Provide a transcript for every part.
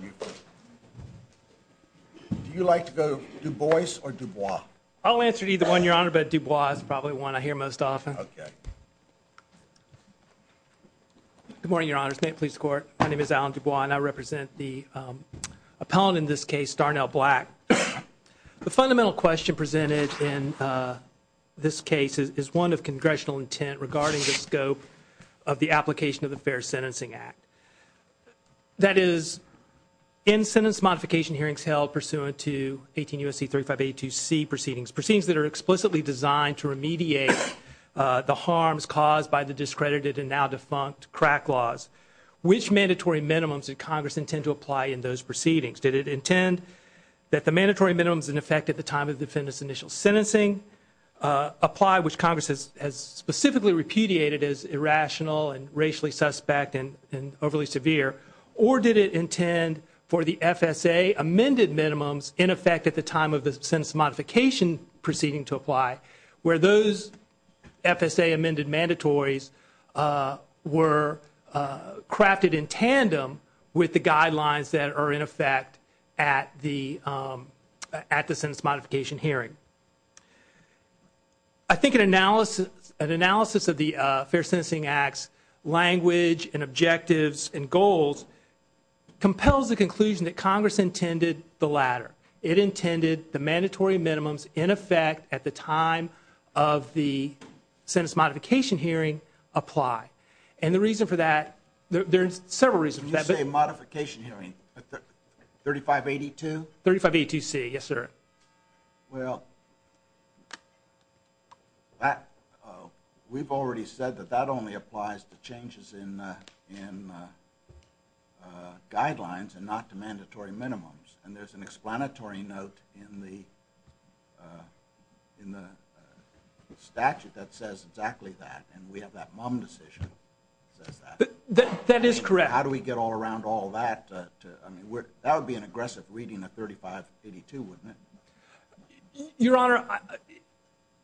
Do you like to go Du Bois or Dubois? I'll answer either one, Your Honor, but Dubois is probably one I hear most often. Good morning, Your Honor. This is the State Police Court. My name is Alan Dubois, and I represent the appellant in this case, Darnell Black. The fundamental question presented in this case is one of Congressional intent regarding the scope of the application of the Fair Sentencing Act. That is, in sentence modification hearings held pursuant to 18 U.S.C. 3582C proceedings, proceedings that are explicitly designed to remediate the harms caused by the discredited and now defunct crack laws, which mandatory minimums did Congress intend to apply in those proceedings? Did it intend that the mandatory minimums in effect at the time of the defendant's initial sentencing apply, which Congress has specifically repudiated as irrational and racially suspect and overly severe, or did it intend for the FSA amended minimums in effect at the time of the sentence modification proceeding to apply, where those FSA amended mandatories were crafted in tandem with the guidelines that are in effect at the sentence modification hearing? I think an analysis of the Fair Sentencing Act's language and objectives and goals compels the conclusion that Congress intended the latter. It intended the mandatory minimums in effect at the time of the sentence modification hearing apply. And the reason for that, there are several reasons for that. You say modification hearing, 3582? 3582C, yes, sir. Well, we've already said that that only applies to changes in guidelines and not to mandatory minimums. And there's an explanatory note in the statute that says exactly that, and we have that MUM decision that says that. That is correct. How do we get all around all that? I mean, that would be an aggressive reading of 3582, wouldn't it? Your Honor,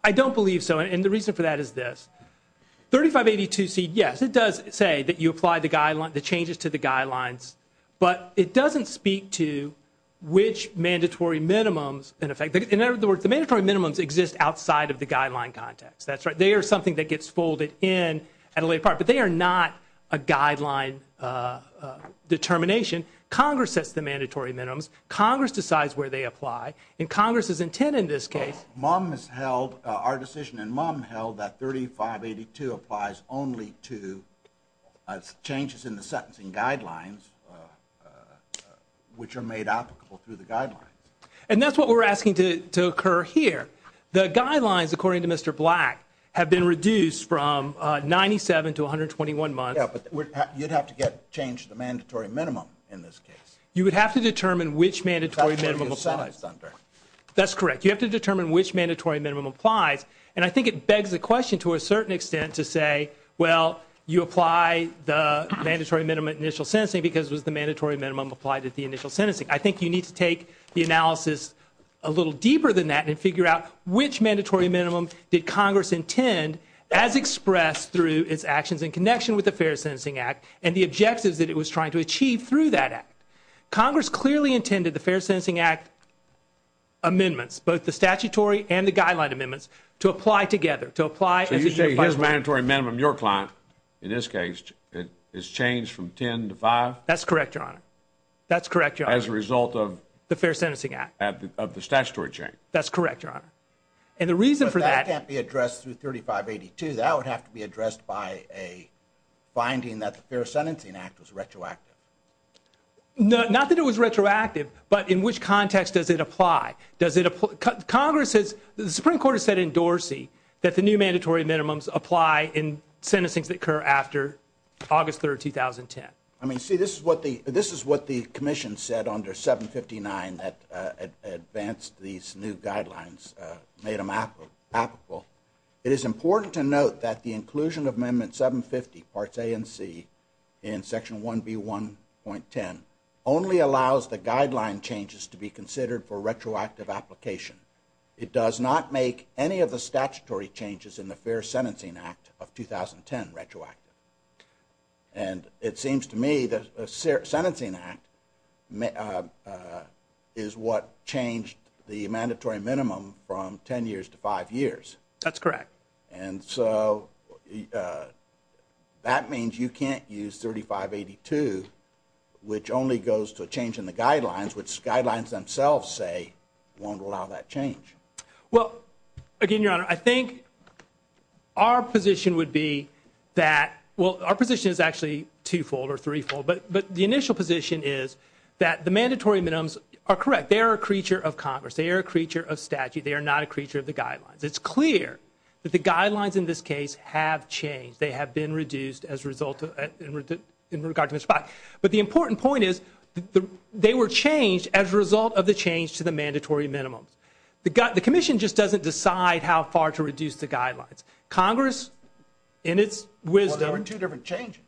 I don't believe so, and the reason for that is this. 3582C, yes, it does say that you apply the changes to the guidelines, but it doesn't speak to which mandatory minimums in effect. In other words, the mandatory minimums exist outside of the guideline context. That's right. They are something that gets folded in at a later part, but they are not a guideline determination. Congress sets the mandatory minimums. Congress decides where they apply, and Congress's intent in this case. Our decision in MUM held that 3582 applies only to changes in the sentencing guidelines, which are made applicable through the guidelines. And that's what we're asking to occur here. The guidelines, according to Mr. Black, have been reduced from 97 to 121 months. Yeah, but you'd have to get change to the mandatory minimum in this case. You would have to determine which mandatory minimum applies. That's what it gets sized under. And I think it begs the question to a certain extent to say, well, you apply the mandatory minimum initial sentencing because it was the mandatory minimum applied at the initial sentencing. I think you need to take the analysis a little deeper than that and figure out which mandatory minimum did Congress intend, as expressed through its actions in connection with the Fair Sentencing Act and the objectives that it was trying to achieve through that act. Congress clearly intended the Fair Sentencing Act amendments, both the statutory and the guideline amendments, to apply together. So you're saying his mandatory minimum, your client in this case, is changed from 10 to 5? That's correct, Your Honor. As a result of the Fair Sentencing Act? Of the statutory change. That's correct, Your Honor. But that can't be addressed through 3582. That would have to be addressed by a finding that the Fair Sentencing Act was retroactive. Not that it was retroactive, but in which context does it apply? Congress has, the Supreme Court has said in Dorsey, that the new mandatory minimums apply in sentencings that occur after August 3, 2010. I mean, see, this is what the Commission said under 759 that advanced these new guidelines, made them applicable. It is important to note that the inclusion of Amendment 750, Parts A and C, in Section 1B1.10, only allows the guideline changes to be considered for retroactive application. It does not make any of the statutory changes in the Fair Sentencing Act of 2010 retroactive. And it seems to me that a sentencing act is what changed the mandatory minimum from 10 years to 5 years. That's correct. And so that means you can't use 3582, which only goes to a change in the guidelines, which guidelines themselves say won't allow that change. Well, again, Your Honor, I think our position would be that, well, our position is actually twofold or threefold, but the initial position is that the mandatory minimums are correct. They are a creature of Congress. They are a creature of statute. They are not a creature of the guidelines. It's clear that the guidelines in this case have changed. They have been reduced as a result in regard to Ms. Spock. But the important point is they were changed as a result of the change to the mandatory minimums. The commission just doesn't decide how far to reduce the guidelines. Congress, in its wisdom. Well, there were two different changes.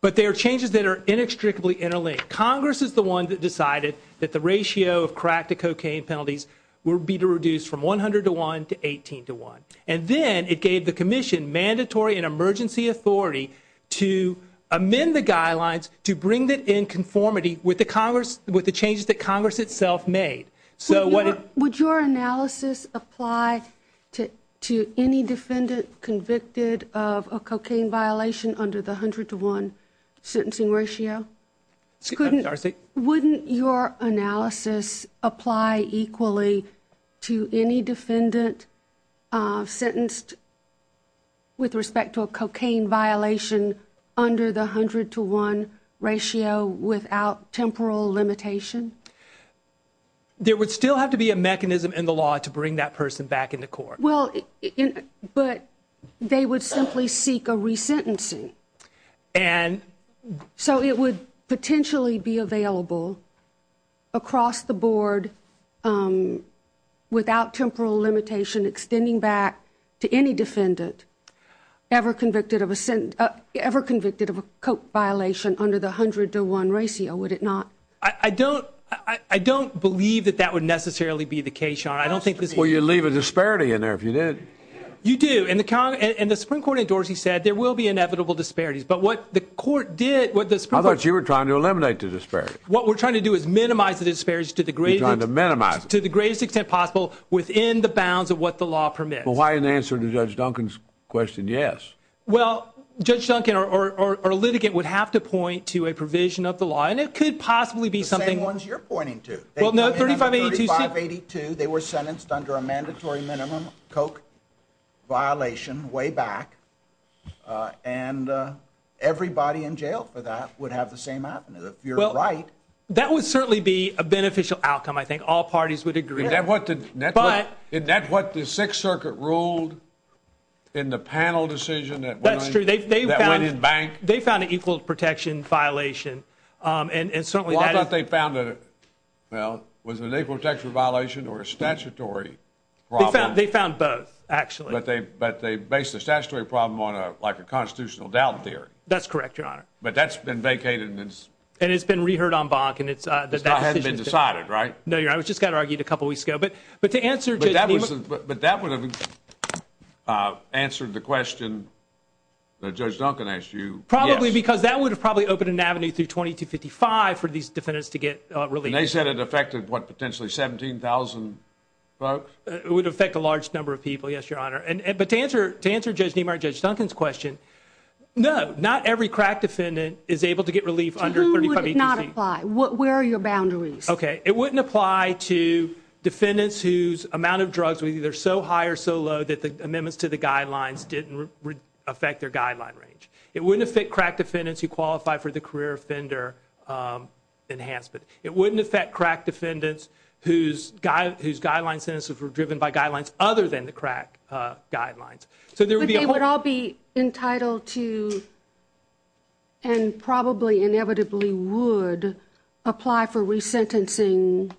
But they are changes that are inextricably interlinked. Congress is the one that decided that the ratio of crack to cocaine penalties would be to reduce from 100 to 1 to 18 to 1. And then it gave the commission mandatory and emergency authority to amend the guidelines to bring it in conformity with the changes that Congress itself made. Would your analysis apply to any defendant convicted of a cocaine violation under the 100 to 1 sentencing ratio? I'm sorry. Wouldn't your analysis apply equally to any defendant sentenced with respect to a cocaine violation under the 100 to 1 ratio without temporal limitation? There would still have to be a mechanism in the law to bring that person back into court. Well, but they would simply seek a resentencing. So it would potentially be available across the board without temporal limitation extending back to any defendant ever convicted of a coke violation under the 100 to 1 ratio, would it not? I don't believe that that would necessarily be the case. Well, you'd leave a disparity in there if you did. You do. And the Supreme Court endorsed, he said, there will be inevitable disparities. I thought you were trying to eliminate the disparities. What we're trying to do is minimize the disparities to the greatest extent possible within the bounds of what the law permits. Well, why in answer to Judge Duncan's question, yes. Well, Judge Duncan, our litigant would have to point to a provision of the law, and it could possibly be something— The same ones you're pointing to. In 3582, they were sentenced under a mandatory minimum coke violation way back, and everybody in jail for that would have the same avenue, if you're right. Well, that would certainly be a beneficial outcome, I think. All parties would agree on that. But— Isn't that what the Sixth Circuit ruled in the panel decision that went in bank? That's true. They found an equal protection violation, and certainly that is— Well, was it an equal protection violation or a statutory problem? They found both, actually. But they based the statutory problem on like a constitutional doubt theory. That's correct, Your Honor. But that's been vacated, and it's— And it's been reheard on bank, and it's— It hasn't been decided, right? No, Your Honor. I just got it argued a couple weeks ago. But to answer— But that would have answered the question that Judge Duncan asked you, yes. Probably, because that would have probably opened an avenue through 2255 for these defendants to get released. And they said it affected, what, potentially 17,000 folks? It would affect a large number of people, yes, Your Honor. But to answer Judge Nemar and Judge Duncan's question, no. Not every crack defendant is able to get relief under 3255. To whom would it not apply? Where are your boundaries? Okay. It wouldn't apply to defendants whose amount of drugs were either so high or so low that the amendments to the guidelines didn't affect their guideline range. It wouldn't affect crack defendants who qualify for the career offender enhancement. It wouldn't affect crack defendants whose guideline sentences were driven by guidelines other than the crack guidelines. So there would be a whole— But they would all be entitled to, and probably inevitably would, apply for resentencing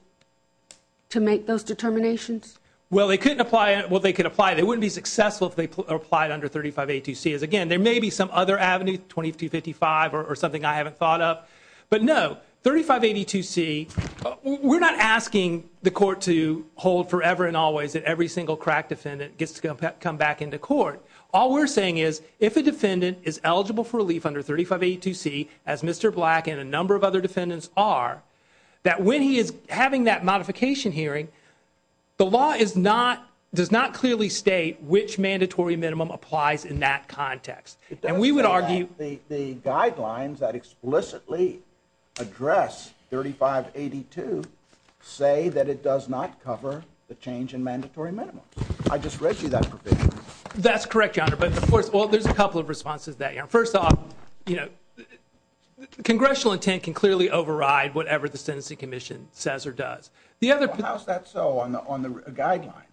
to make those determinations? Well, they couldn't apply—well, they could apply. They wouldn't be successful if they applied under 3582C. Again, there may be some other avenue, 2255, or something I haven't thought of. But no, 3582C, we're not asking the court to hold forever and always that every single crack defendant gets to come back into court. All we're saying is if a defendant is eligible for relief under 3582C, as Mr. Black and a number of other defendants are, that when he is having that modification hearing, the law does not clearly state which mandatory minimum applies in that context. And we would argue— It does say that the guidelines that explicitly address 3582 say that it does not cover the change in mandatory minimums. I just read you that provision. That's correct, Your Honor. But, of course, well, there's a couple of responses to that, Your Honor. First off, you know, congressional intent can clearly override whatever the Sentencing Commission says or does. How is that so on the guidelines?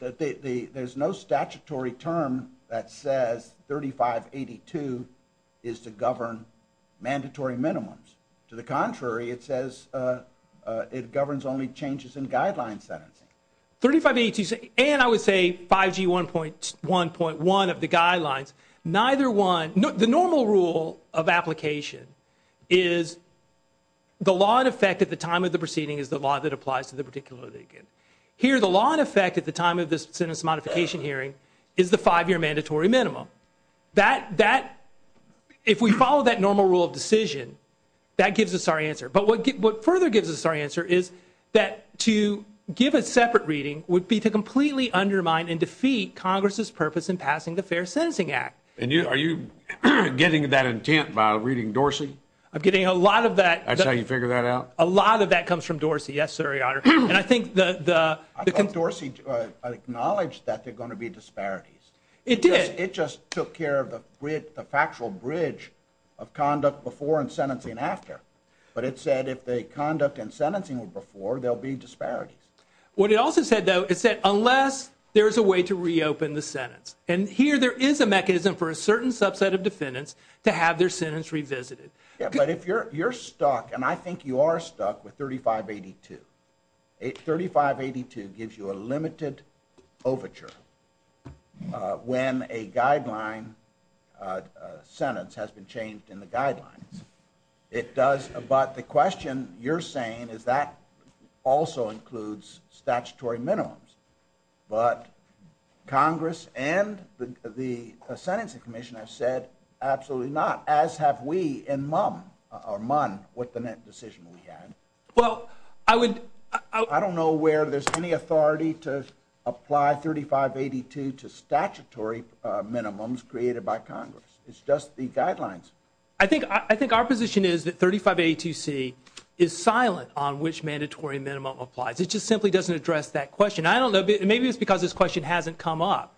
There's no statutory term that says 3582 is to govern mandatory minimums. To the contrary, it says it governs only changes in guideline sentencing. 3582C, and I would say 5G 1.1 of the guidelines, neither one— The normal rule of application is the law in effect at the time of the proceeding is the law that applies to the particular defendant. Here, the law in effect at the time of the sentence modification hearing is the five-year mandatory minimum. That—if we follow that normal rule of decision, that gives us our answer. But what further gives us our answer is that to give a separate reading would be to completely undermine and defeat Congress' purpose in passing the Fair Sentencing Act. And are you getting that intent by reading Dorsey? I'm getting a lot of that— That's how you figure that out? A lot of that comes from Dorsey, yes, sir, Your Honor. And I think the— I thought Dorsey acknowledged that there are going to be disparities. It did. It just took care of the factual bridge of conduct before and sentencing after. But it said if the conduct and sentencing were before, there will be disparities. What it also said, though, it said unless there is a way to reopen the sentence. And here there is a mechanism for a certain subset of defendants to have their sentence revisited. Yeah, but if you're stuck—and I think you are stuck with 3582. 3582 gives you a limited overture when a guideline sentence has been changed in the guidelines. It does—but the question you're saying is that also includes statutory minimums. But Congress and the Sentencing Commission have said absolutely not, as have we in MUN, what the next decision we have. Well, I would— I don't know where there's any authority to apply 3582 to statutory minimums created by Congress. It's just the guidelines. I think our position is that 3582C is silent on which mandatory minimum applies. It just simply doesn't address that question. I don't know. Maybe it's because this question hasn't come up.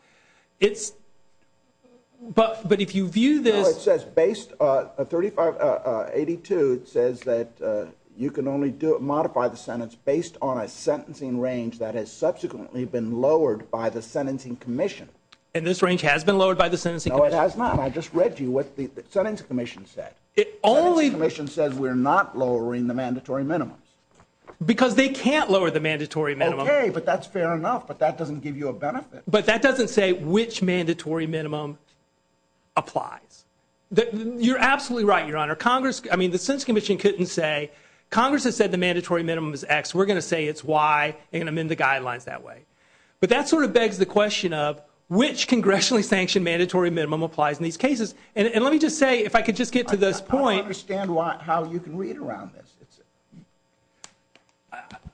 But if you view this— No, it says based—3582 says that you can only modify the sentence based on a sentencing range that has subsequently been lowered by the Sentencing Commission. And this range has been lowered by the Sentencing Commission? No, it has not. I just read to you what the Sentencing Commission said. It only— The Sentencing Commission says we're not lowering the mandatory minimums. Because they can't lower the mandatory minimums. Okay, but that's fair enough, but that doesn't give you a benefit. But that doesn't say which mandatory minimum applies. You're absolutely right, Your Honor. Congress—I mean, the Sentencing Commission couldn't say, Congress has said the mandatory minimum is X. We're going to say it's Y, and amend the guidelines that way. But that sort of begs the question of which congressionally sanctioned mandatory minimum applies in these cases. And let me just say, if I could just get to this point— I don't understand how you can read around this.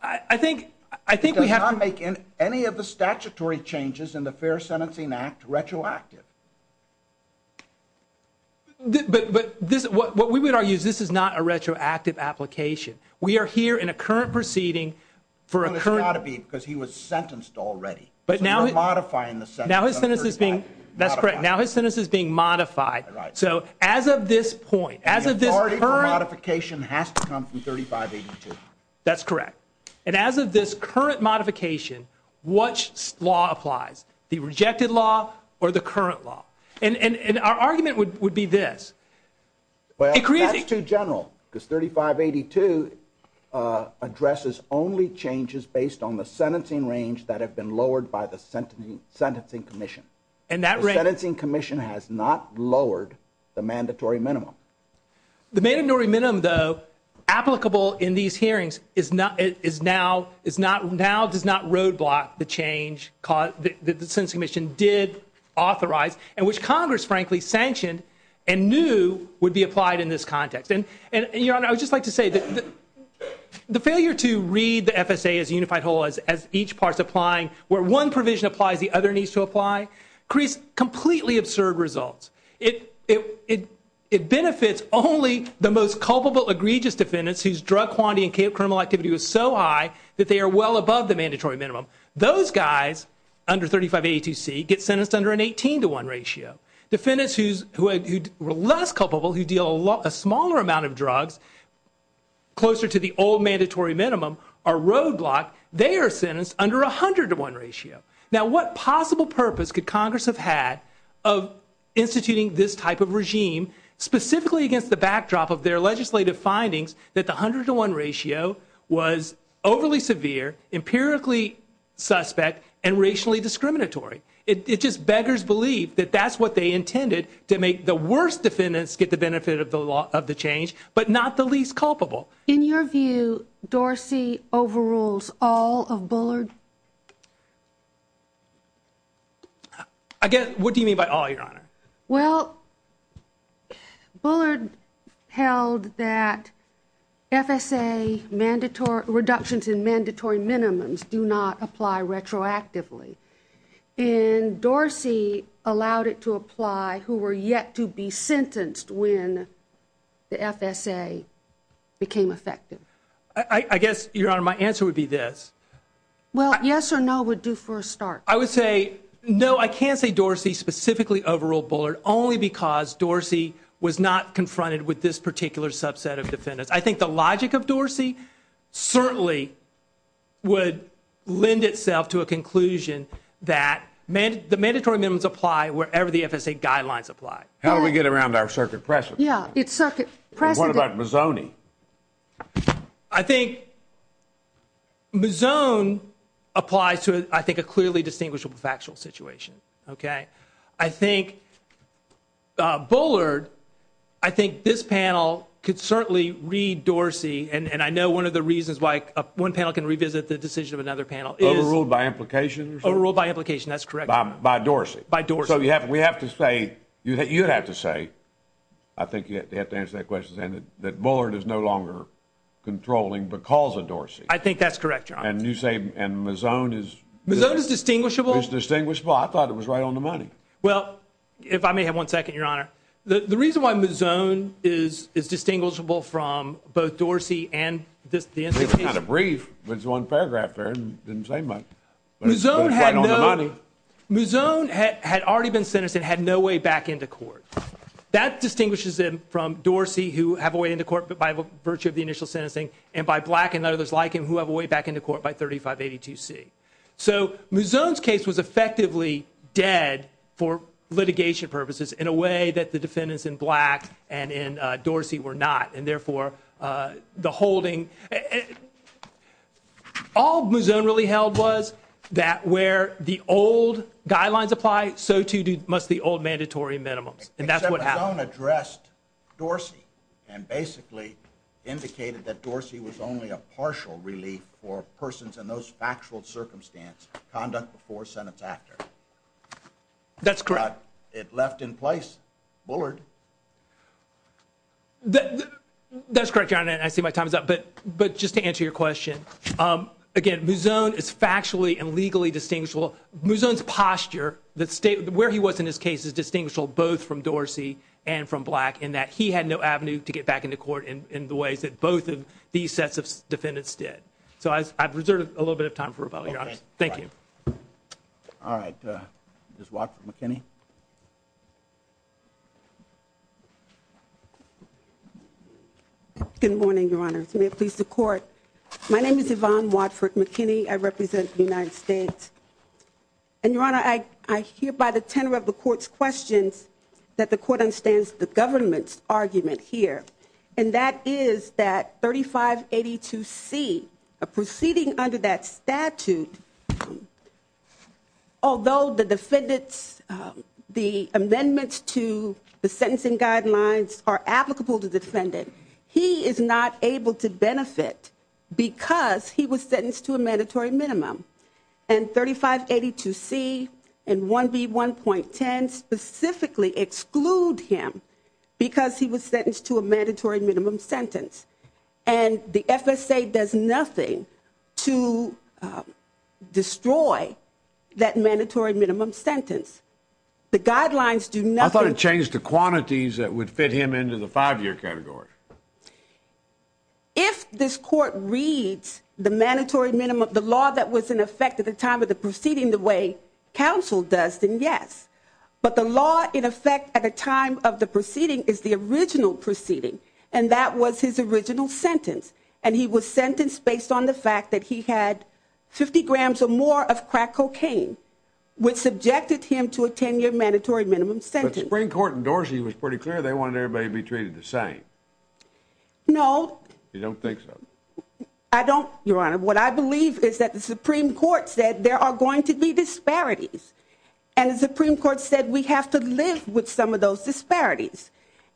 I think— It does not make any of the statutory changes in the Fair Sentencing Act retroactive. But what we would argue is this is not a retroactive application. We are here in a current proceeding for a current— Well, it's got to be, because he was sentenced already. So we're modifying the sentence. Now his sentence is being—that's correct. Now his sentence is being modified. Right. So as of this point, as of this current— That's correct. And as of this current modification, which law applies? The rejected law or the current law? And our argument would be this. Well, that's too general, because 3582 addresses only changes based on the sentencing range that have been lowered by the Sentencing Commission. And that range— The Sentencing Commission has not lowered the mandatory minimum. The mandatory minimum, though, applicable in these hearings, now does not roadblock the change that the Sentencing Commission did authorize and which Congress, frankly, sanctioned and knew would be applied in this context. And, Your Honor, I would just like to say that the failure to read the FSA as a unified whole, as each part's applying, where one provision applies, the other needs to apply, creates completely absurd results. It benefits only the most culpable egregious defendants whose drug quantity and criminal activity was so high that they are well above the mandatory minimum. Those guys under 3582C get sentenced under an 18 to 1 ratio. Defendants who are less culpable, who deal a smaller amount of drugs, closer to the old mandatory minimum, are roadblocked. They are sentenced under a 100 to 1 ratio. Now, what possible purpose could Congress have had of instituting this type of regime, specifically against the backdrop of their legislative findings that the 100 to 1 ratio was overly severe, empirically suspect, and racially discriminatory? It just beggars belief that that's what they intended, to make the worst defendants get the benefit of the change, but not the least culpable. In your view, Dorsey overrules all of Bullard? What do you mean by all, Your Honor? Well, Bullard held that FSA reductions in mandatory minimums do not apply retroactively, and Dorsey allowed it to apply who were yet to be sentenced when the FSA became effective. I guess, Your Honor, my answer would be this. Well, yes or no would do for a start. I would say, no, I can't say Dorsey specifically overruled Bullard only because Dorsey was not confronted with this particular subset of defendants. I think the logic of Dorsey certainly would lend itself to a conclusion that the mandatory minimums apply wherever the FSA guidelines apply. How do we get around our circuit precedent? Yeah, it's circuit precedent. What about Mazzone? I think Mazzone applies to, I think, a clearly distinguishable factual situation. I think Bullard, I think this panel could certainly read Dorsey, and I know one of the reasons why one panel can revisit the decision of another panel is— Overruled by implication or something? Overruled by implication, that's correct. By Dorsey. By Dorsey. So we have to say, you'd have to say, I think you'd have to answer that question, that Bullard is no longer controlling because of Dorsey. I think that's correct, Your Honor. And you say Mazzone is— Mazzone is distinguishable? Mazzone is distinguishable. I thought it was right on the money. Well, if I may have one second, Your Honor. The reason why Mazzone is distinguishable from both Dorsey and this— It was kind of brief. It was one paragraph there. Mazzone had no— But it's right on the money. Mazzone had already been sentenced and had no way back into court. That distinguishes him from Dorsey, who have a way into court by virtue of the initial sentencing, and by Black and others like him who have a way back into court by 3582C. So Mazzone's case was effectively dead for litigation purposes in a way that the defendants in Black and in Dorsey were not, and therefore the holding— All Mazzone really held was that where the old guidelines apply, so too must the old mandatory minimums, and that's what happened. Except Mazzone addressed Dorsey and basically indicated that Dorsey was only a partial relief for persons in those factual circumstances, conduct before, sentence after. That's correct. It left in place Bullard. That's correct, Your Honor, and I see my time is up. But just to answer your question, again, Mazzone is factually and legally distinguishable. Mazzone's posture, where he was in his case, is distinguishable both from Dorsey and from Black in that he had no avenue to get back into court in the ways that both of these sets of defendants did. So I've reserved a little bit of time for rebuttal, Your Honor. Okay. Thank you. All right. Ms. Watford-McKinney. Good morning, Your Honor. May it please the Court. My name is Yvonne Watford-McKinney. I represent the United States. And, Your Honor, I hear by the tenor of the Court's questions that the Court understands the government's argument here, and that is that 3582C, a proceeding under that statute, although the defendants' amendments to the sentencing guidelines are applicable to the defendant, he is not able to benefit because he was sentenced to a mandatory minimum. And 3582C and 1B1.10 specifically exclude him because he was sentenced to a mandatory minimum sentence. And the FSA does nothing to destroy that mandatory minimum sentence. The guidelines do nothing. I thought it changed the quantities that would fit him into the five-year category. If this Court reads the mandatory minimum, the law that was in effect at the time of the proceeding the way counsel does, then yes. But the law in effect at the time of the proceeding is the original proceeding, and that was his original sentence. And he was sentenced based on the fact that he had 50 grams or more of crack cocaine, which subjected him to a 10-year mandatory minimum sentence. But the Supreme Court in Dorsey was pretty clear they wanted everybody to be treated the same. No. You don't think so? I don't, Your Honor. What I believe is that the Supreme Court said there are going to be disparities, and the Supreme Court said we have to live with some of those disparities.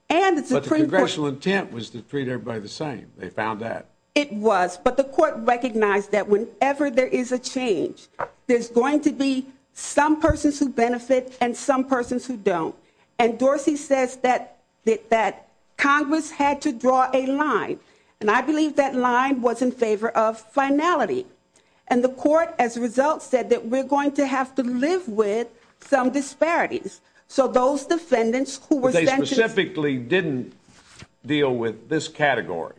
But the congressional intent was to treat everybody the same. They found that. It was. But the Court recognized that whenever there is a change, there's going to be some persons who benefit and some persons who don't. And Dorsey says that Congress had to draw a line, and I believe that line was in favor of finality. And the Court, as a result, said that we're going to have to live with some disparities. So those defendants who were sentenced. But they specifically didn't deal with this category.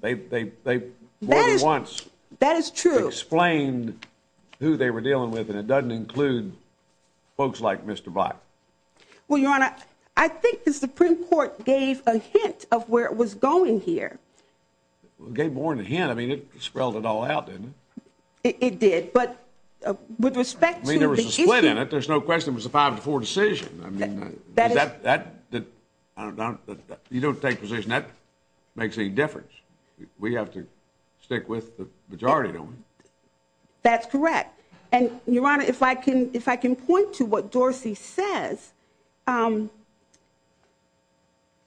They more than once. That is true. Explained who they were dealing with, and it doesn't include folks like Mr. Black. Well, Your Honor, I think the Supreme Court gave a hint of where it was going here. Well, it gave Warren a hint. I mean, it spelled it all out, didn't it? It did. But with respect to the issue. I mean, there was a split in it. There's no question it was a 5-4 decision. I mean, you don't take a position that makes any difference. We have to stick with the majority, don't we? That's correct. And, Your Honor, if I can point to what Dorsey says, at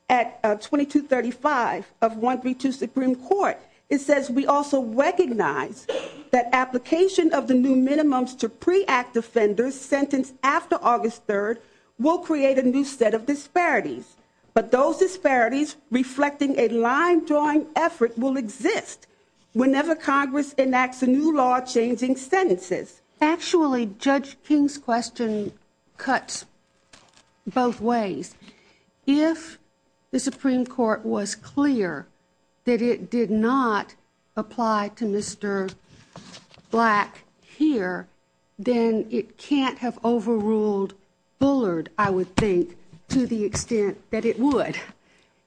2235 of 132 Supreme Court, it says, We also recognize that application of the new minimums to pre-act offenders sentenced after August 3rd will create a new set of disparities. But those disparities reflecting a line-drawing effort will exist whenever Congress enacts a new law changing sentences. Actually, Judge King's question cuts both ways. If the Supreme Court was clear that it did not apply to Mr. Black here, then it can't have overruled Bullard, I would think, to the extent that it would.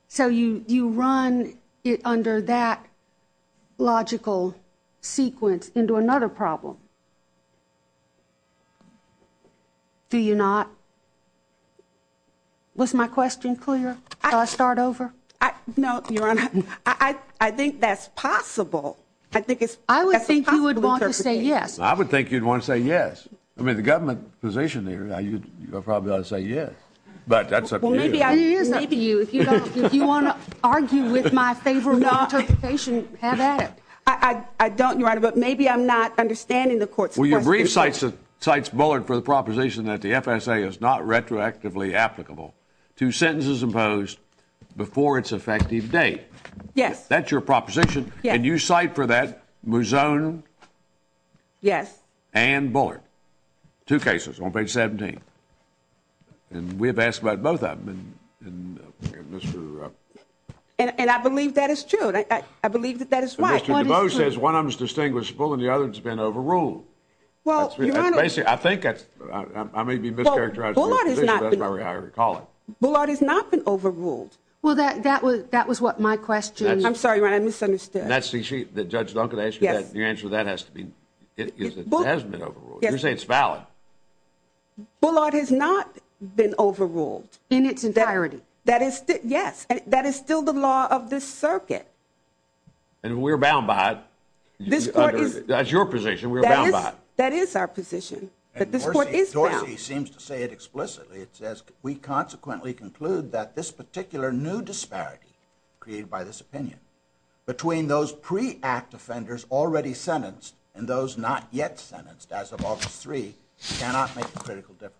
So you run it under that logical sequence into another problem. Do you not? Was my question clear? Shall I start over? No, Your Honor. I think that's possible. I think it's possible to interpret it. Yes. I would think you'd want to say yes. I mean, the government position there, you probably ought to say yes. But that's up to you. Maybe you. If you want to argue with my favorable interpretation, have at it. I don't, Your Honor, but maybe I'm not understanding the court's question. Well, your brief cites Bullard for the proposition that the FSA is not retroactively applicable to sentences imposed before its effective date. Yes. That's your proposition. Yes. And you cite for that Muzzone? Yes. And Bullard. Two cases on page 17. And we have asked about both of them. And I believe that is true. I believe that that is right. Mr. DeVos says one of them is distinguishable and the other has been overruled. Well, Your Honor. I think I may be mischaracterizing the position, but that's the way I recall it. Bullard has not been overruled. Well, that was what my question was. I'm sorry, Your Honor. I misunderstood. That's the issue that Judge Duncan asked you. Yes. Your answer to that has to be, it hasn't been overruled. You're saying it's valid. Bullard has not been overruled. In its entirety. Yes. That is still the law of this circuit. And we're bound by it. That's your position. We're bound by it. That is our position. But this court is bound. And Dorsey seems to say it explicitly. It says, we consequently conclude that this particular new disparity created by this opinion, between those pre-act offenders already sentenced and those not yet sentenced as of August 3, cannot make a critical difference.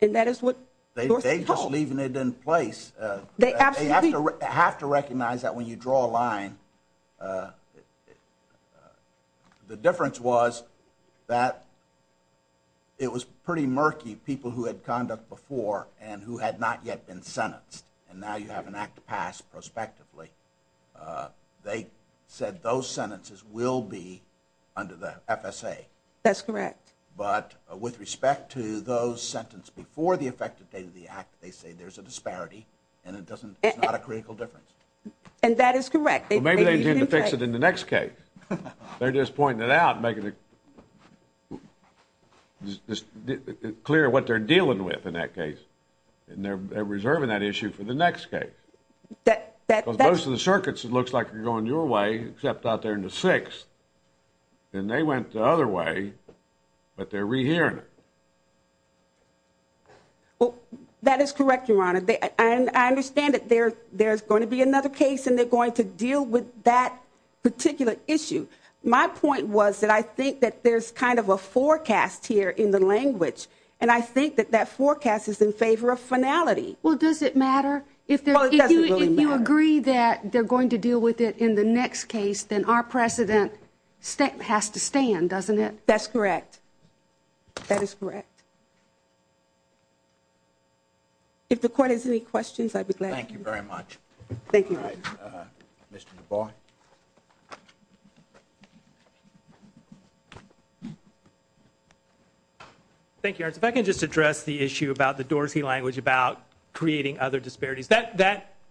And that is what Dorsey told us. They're just leaving it in place. They have to recognize that when you draw a line, the difference was that it was pretty murky, people who had conduct before and who had not yet been sentenced. And now you have an act to pass prospectively. They said those sentences will be under the FSA. That's correct. But with respect to those sentenced before the effective date of the act, they say there's a disparity and it's not a critical difference. And that is correct. Well, maybe they intend to fix it in the next case. They're just pointing it out and making it clear what they're dealing with in that case. And they're reserving that issue for the next case. Because most of the circuits, it looks like, are going your way, except out there in the sixth. And they went the other way, but they're rehearing it. Well, that is correct, Your Honor. I understand that there's going to be another case and they're going to deal with that particular issue. My point was that I think that there's kind of a forecast here in the language, and I think that that forecast is in favor of finality. Well, does it matter? Well, it doesn't really matter. If you agree that they're going to deal with it in the next case, then our precedent has to stand, doesn't it? That's correct. That is correct. If the Court has any questions, I'd be glad to. Thank you very much. Thank you. All right. Mr. DuBois. Thank you, Your Honor. If I can just address the issue about the Dorsey language about creating other disparities.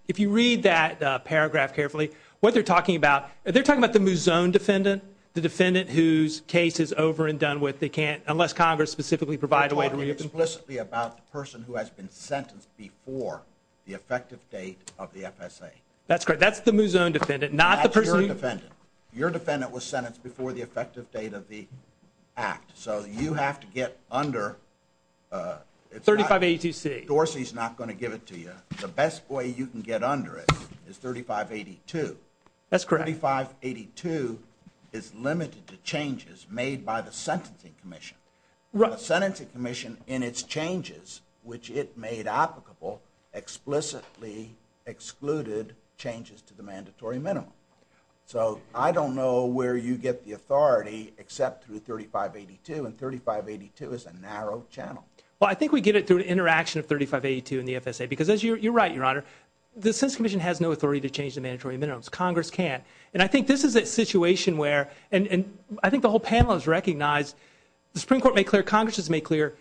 If you read that paragraph carefully, what they're talking about, they're talking about the Mouzon defendant, the defendant whose case is over and done with. Unless Congress specifically provides a way to read it. They're talking explicitly about the person who has been sentenced before the effective date of the FSA. That's correct. That's the Mouzon defendant, not the person who. That's your defendant. Your defendant was sentenced before the effective date of the act. So you have to get under. 3582C. Dorsey's not going to give it to you. The best way you can get under it is 3582. That's correct. 3582 is limited to changes made by the Sentencing Commission. The Sentencing Commission in its changes, which it made applicable, explicitly excluded changes to the mandatory minimum. So I don't know where you get the authority except through 3582. And 3582 is a narrow channel. Well, I think we get it through an interaction of 3582 and the FSA. Because you're right, Your Honor. The Sentencing Commission has no authority to change the mandatory minimums. Congress can. And I think this is a situation where, and I think the whole panel has recognized, the Supreme Court made clear, Congress has made clear,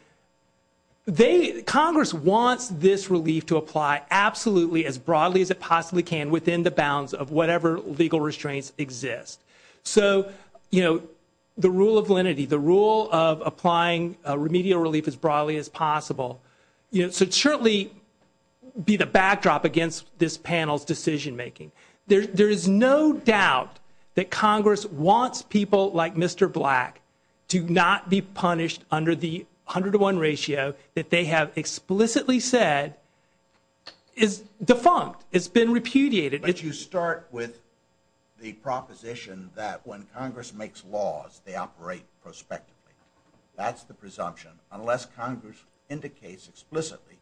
Congress wants this relief to apply absolutely as broadly as it possibly can within the bounds of whatever legal restraints exist. So the rule of lenity, the rule of applying remedial relief as broadly as possible, should certainly be the backdrop against this panel's decision making. There is no doubt that Congress wants people like Mr. Black to not be punished under the 101 ratio that they have explicitly said is defunct, has been repudiated. But you start with the proposition that when Congress makes laws, they operate prospectively. That's the presumption. Unless Congress indicates explicitly,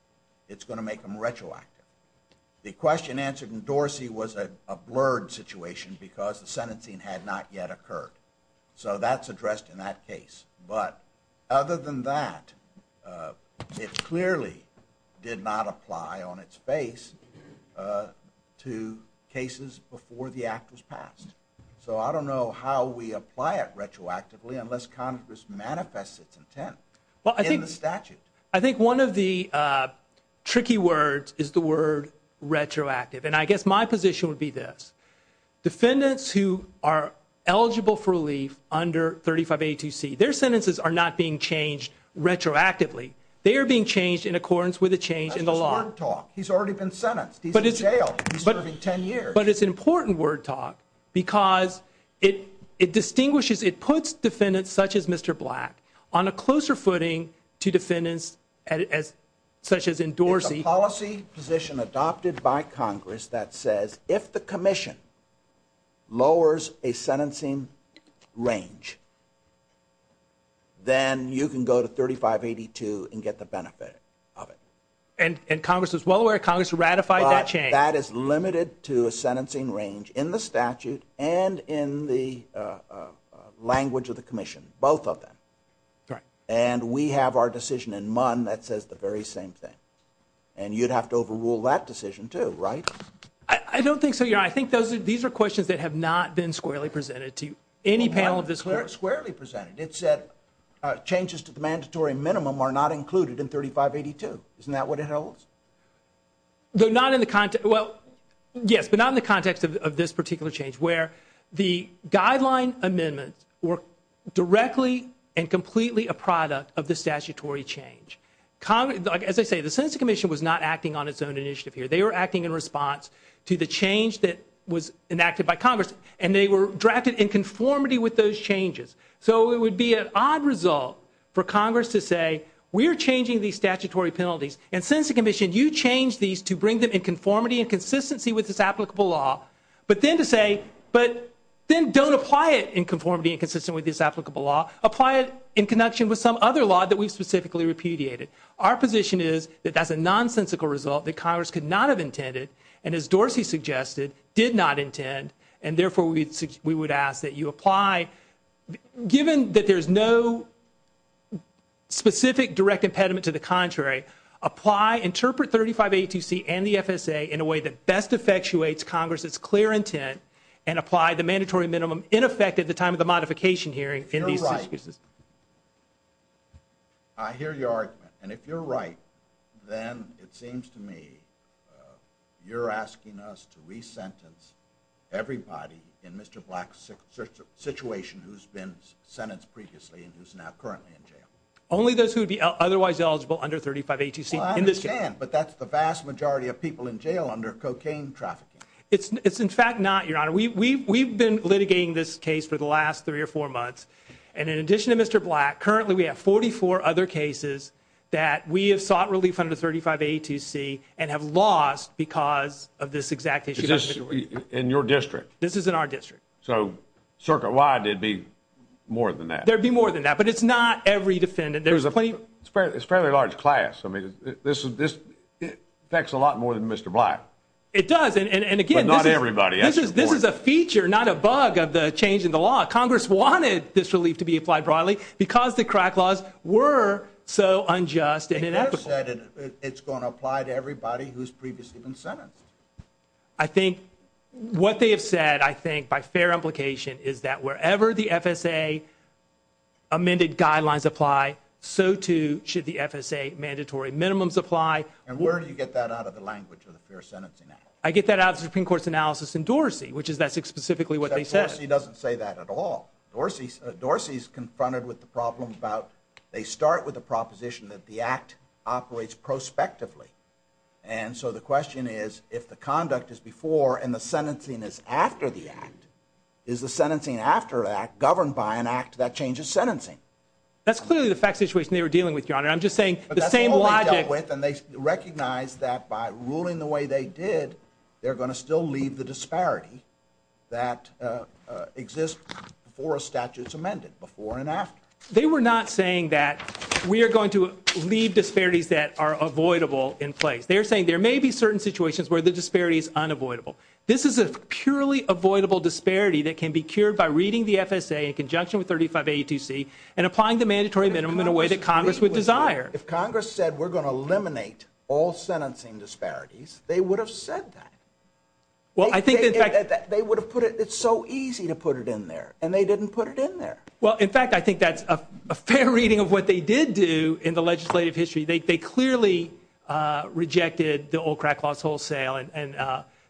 it's going to make them retroactive. The question answered in Dorsey was a blurred situation because the sentencing had not yet occurred. So that's addressed in that case. But other than that, it clearly did not apply on its face to cases before the act was passed. So I don't know how we apply it retroactively unless Congress manifests its intent in the statute. I think one of the tricky words is the word retroactive. And I guess my position would be this. Defendants who are eligible for relief under 3582C, their sentences are not being changed retroactively. They are being changed in accordance with a change in the law. That's just word talk. He's already been sentenced. He's in jail. He's serving 10 years. But it's important word talk because it distinguishes, it puts defendants such as Mr. Black on a closer footing to defendants such as in Dorsey. It's a policy position adopted by Congress that says if the commission lowers a sentencing range, then you can go to 3582 and get the benefit of it. And Congress is well aware, Congress ratified that change. That is limited to a sentencing range in the statute and in the language of the commission, both of them. And we have our decision in MUN that says the very same thing. And you'd have to overrule that decision too, right? I don't think so, Your Honor. I think these are questions that have not been squarely presented to you, any panel of this court. Not squarely presented. It said changes to the mandatory minimum are not included in 3582. Isn't that what it holds? Yes, but not in the context of this particular change where the guideline amendments were directly and completely a product of the statutory change. As I say, the Sentencing Commission was not acting on its own initiative here. They were acting in response to the change that was enacted by Congress and they were drafted in conformity with those changes. So it would be an odd result for Congress to say we're changing these statutory penalties and, Sentencing Commission, you change these to bring them in conformity and consistency with this applicable law. But then to say, but then don't apply it in conformity and consistency with this applicable law. Apply it in connection with some other law that we've specifically repudiated. Our position is that that's a nonsensical result that Congress could not have intended and, as Dorsey suggested, did not intend and therefore we would ask that you apply, given that there's no specific direct impediment to the contrary, apply, interpret 3582C and the FSA in a way that best effectuates Congress's clear intent and apply the mandatory minimum in effect at the time of the modification hearing in these circumstances. I hear your argument. And if you're right, then it seems to me you're asking us to re-sentence everybody in Mr. Black's situation who's been sentenced previously and who's now currently in jail. Only those who would be otherwise eligible under 3582C in this case. Well, I understand, but that's the vast majority of people in jail under cocaine trafficking. It's in fact not, Your Honor. We've been litigating this case for the last three or four months and in addition to Mr. Black, currently we have 44 other cases that we have sought relief under 3582C and have lost because of this exact issue. Is this in your district? This is in our district. So circuit-wide it'd be more than that. There'd be more than that, but it's not every defendant. It's a fairly large class. I mean, this affects a lot more than Mr. Black. It does, and again, this is a feature, not a bug of the change in the law. Congress wanted this relief to be applied broadly because the crack laws were so unjust and unethical. It's going to apply to everybody who's previously been sentenced. I think what they have said, I think by fair implication, is that wherever the FSA amended guidelines apply, so too should the FSA mandatory minimums apply. And where do you get that out of the language of the Fair Sentencing Act? I get that out of the Supreme Court's analysis in Dorsey, which is that's specifically what they said. Except Dorsey doesn't say that at all. Dorsey's confronted with the problem about they start with a proposition that the act operates prospectively, and so the question is if the conduct is before and the sentencing is after the act, is the sentencing after that governed by an act that changes sentencing? That's clearly the fact situation they were dealing with, Your Honor. I'm just saying the same logic. But that's all they dealt with, and they recognized that by ruling the way they did, they're going to still leave the disparity that exists before a statute's amended, before and after. They were not saying that we are going to leave disparities that are avoidable in place. They're saying there may be certain situations where the disparity is unavoidable. This is a purely avoidable disparity that can be cured by reading the FSA in conjunction with 35A2C and applying the mandatory minimum in a way that Congress would desire. If Congress said we're going to eliminate all sentencing disparities, they would have said that. They would have put it, it's so easy to put it in there, and they didn't put it in there. Well, in fact, I think that's a fair reading of what they did do in the legislative history. They clearly rejected the old crack laws wholesale, and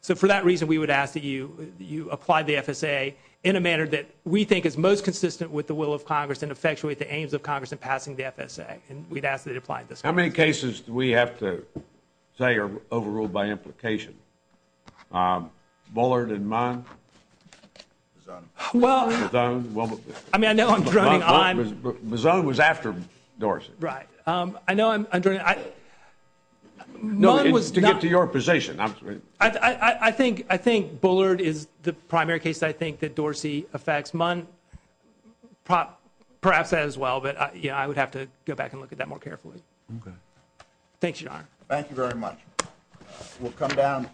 so for that reason, we would ask that you apply the FSA in a manner that we think is most consistent with the will of Congress and effectuate the aims of Congress in passing the FSA. And we'd ask that it apply at this point. How many cases do we have to say are overruled by implication? Bullard and Munn? Mazzone? Well, I mean, I know I'm droning on. Mazzone was after Dorsey. Right. I know I'm droning on. No, it's to get to your position. I think Bullard is the primary case I think that Dorsey affects. Munn perhaps as well, but, you know, I would have to go back and look at that more carefully. Okay. Thanks, Your Honor. Thank you very much. We'll come down.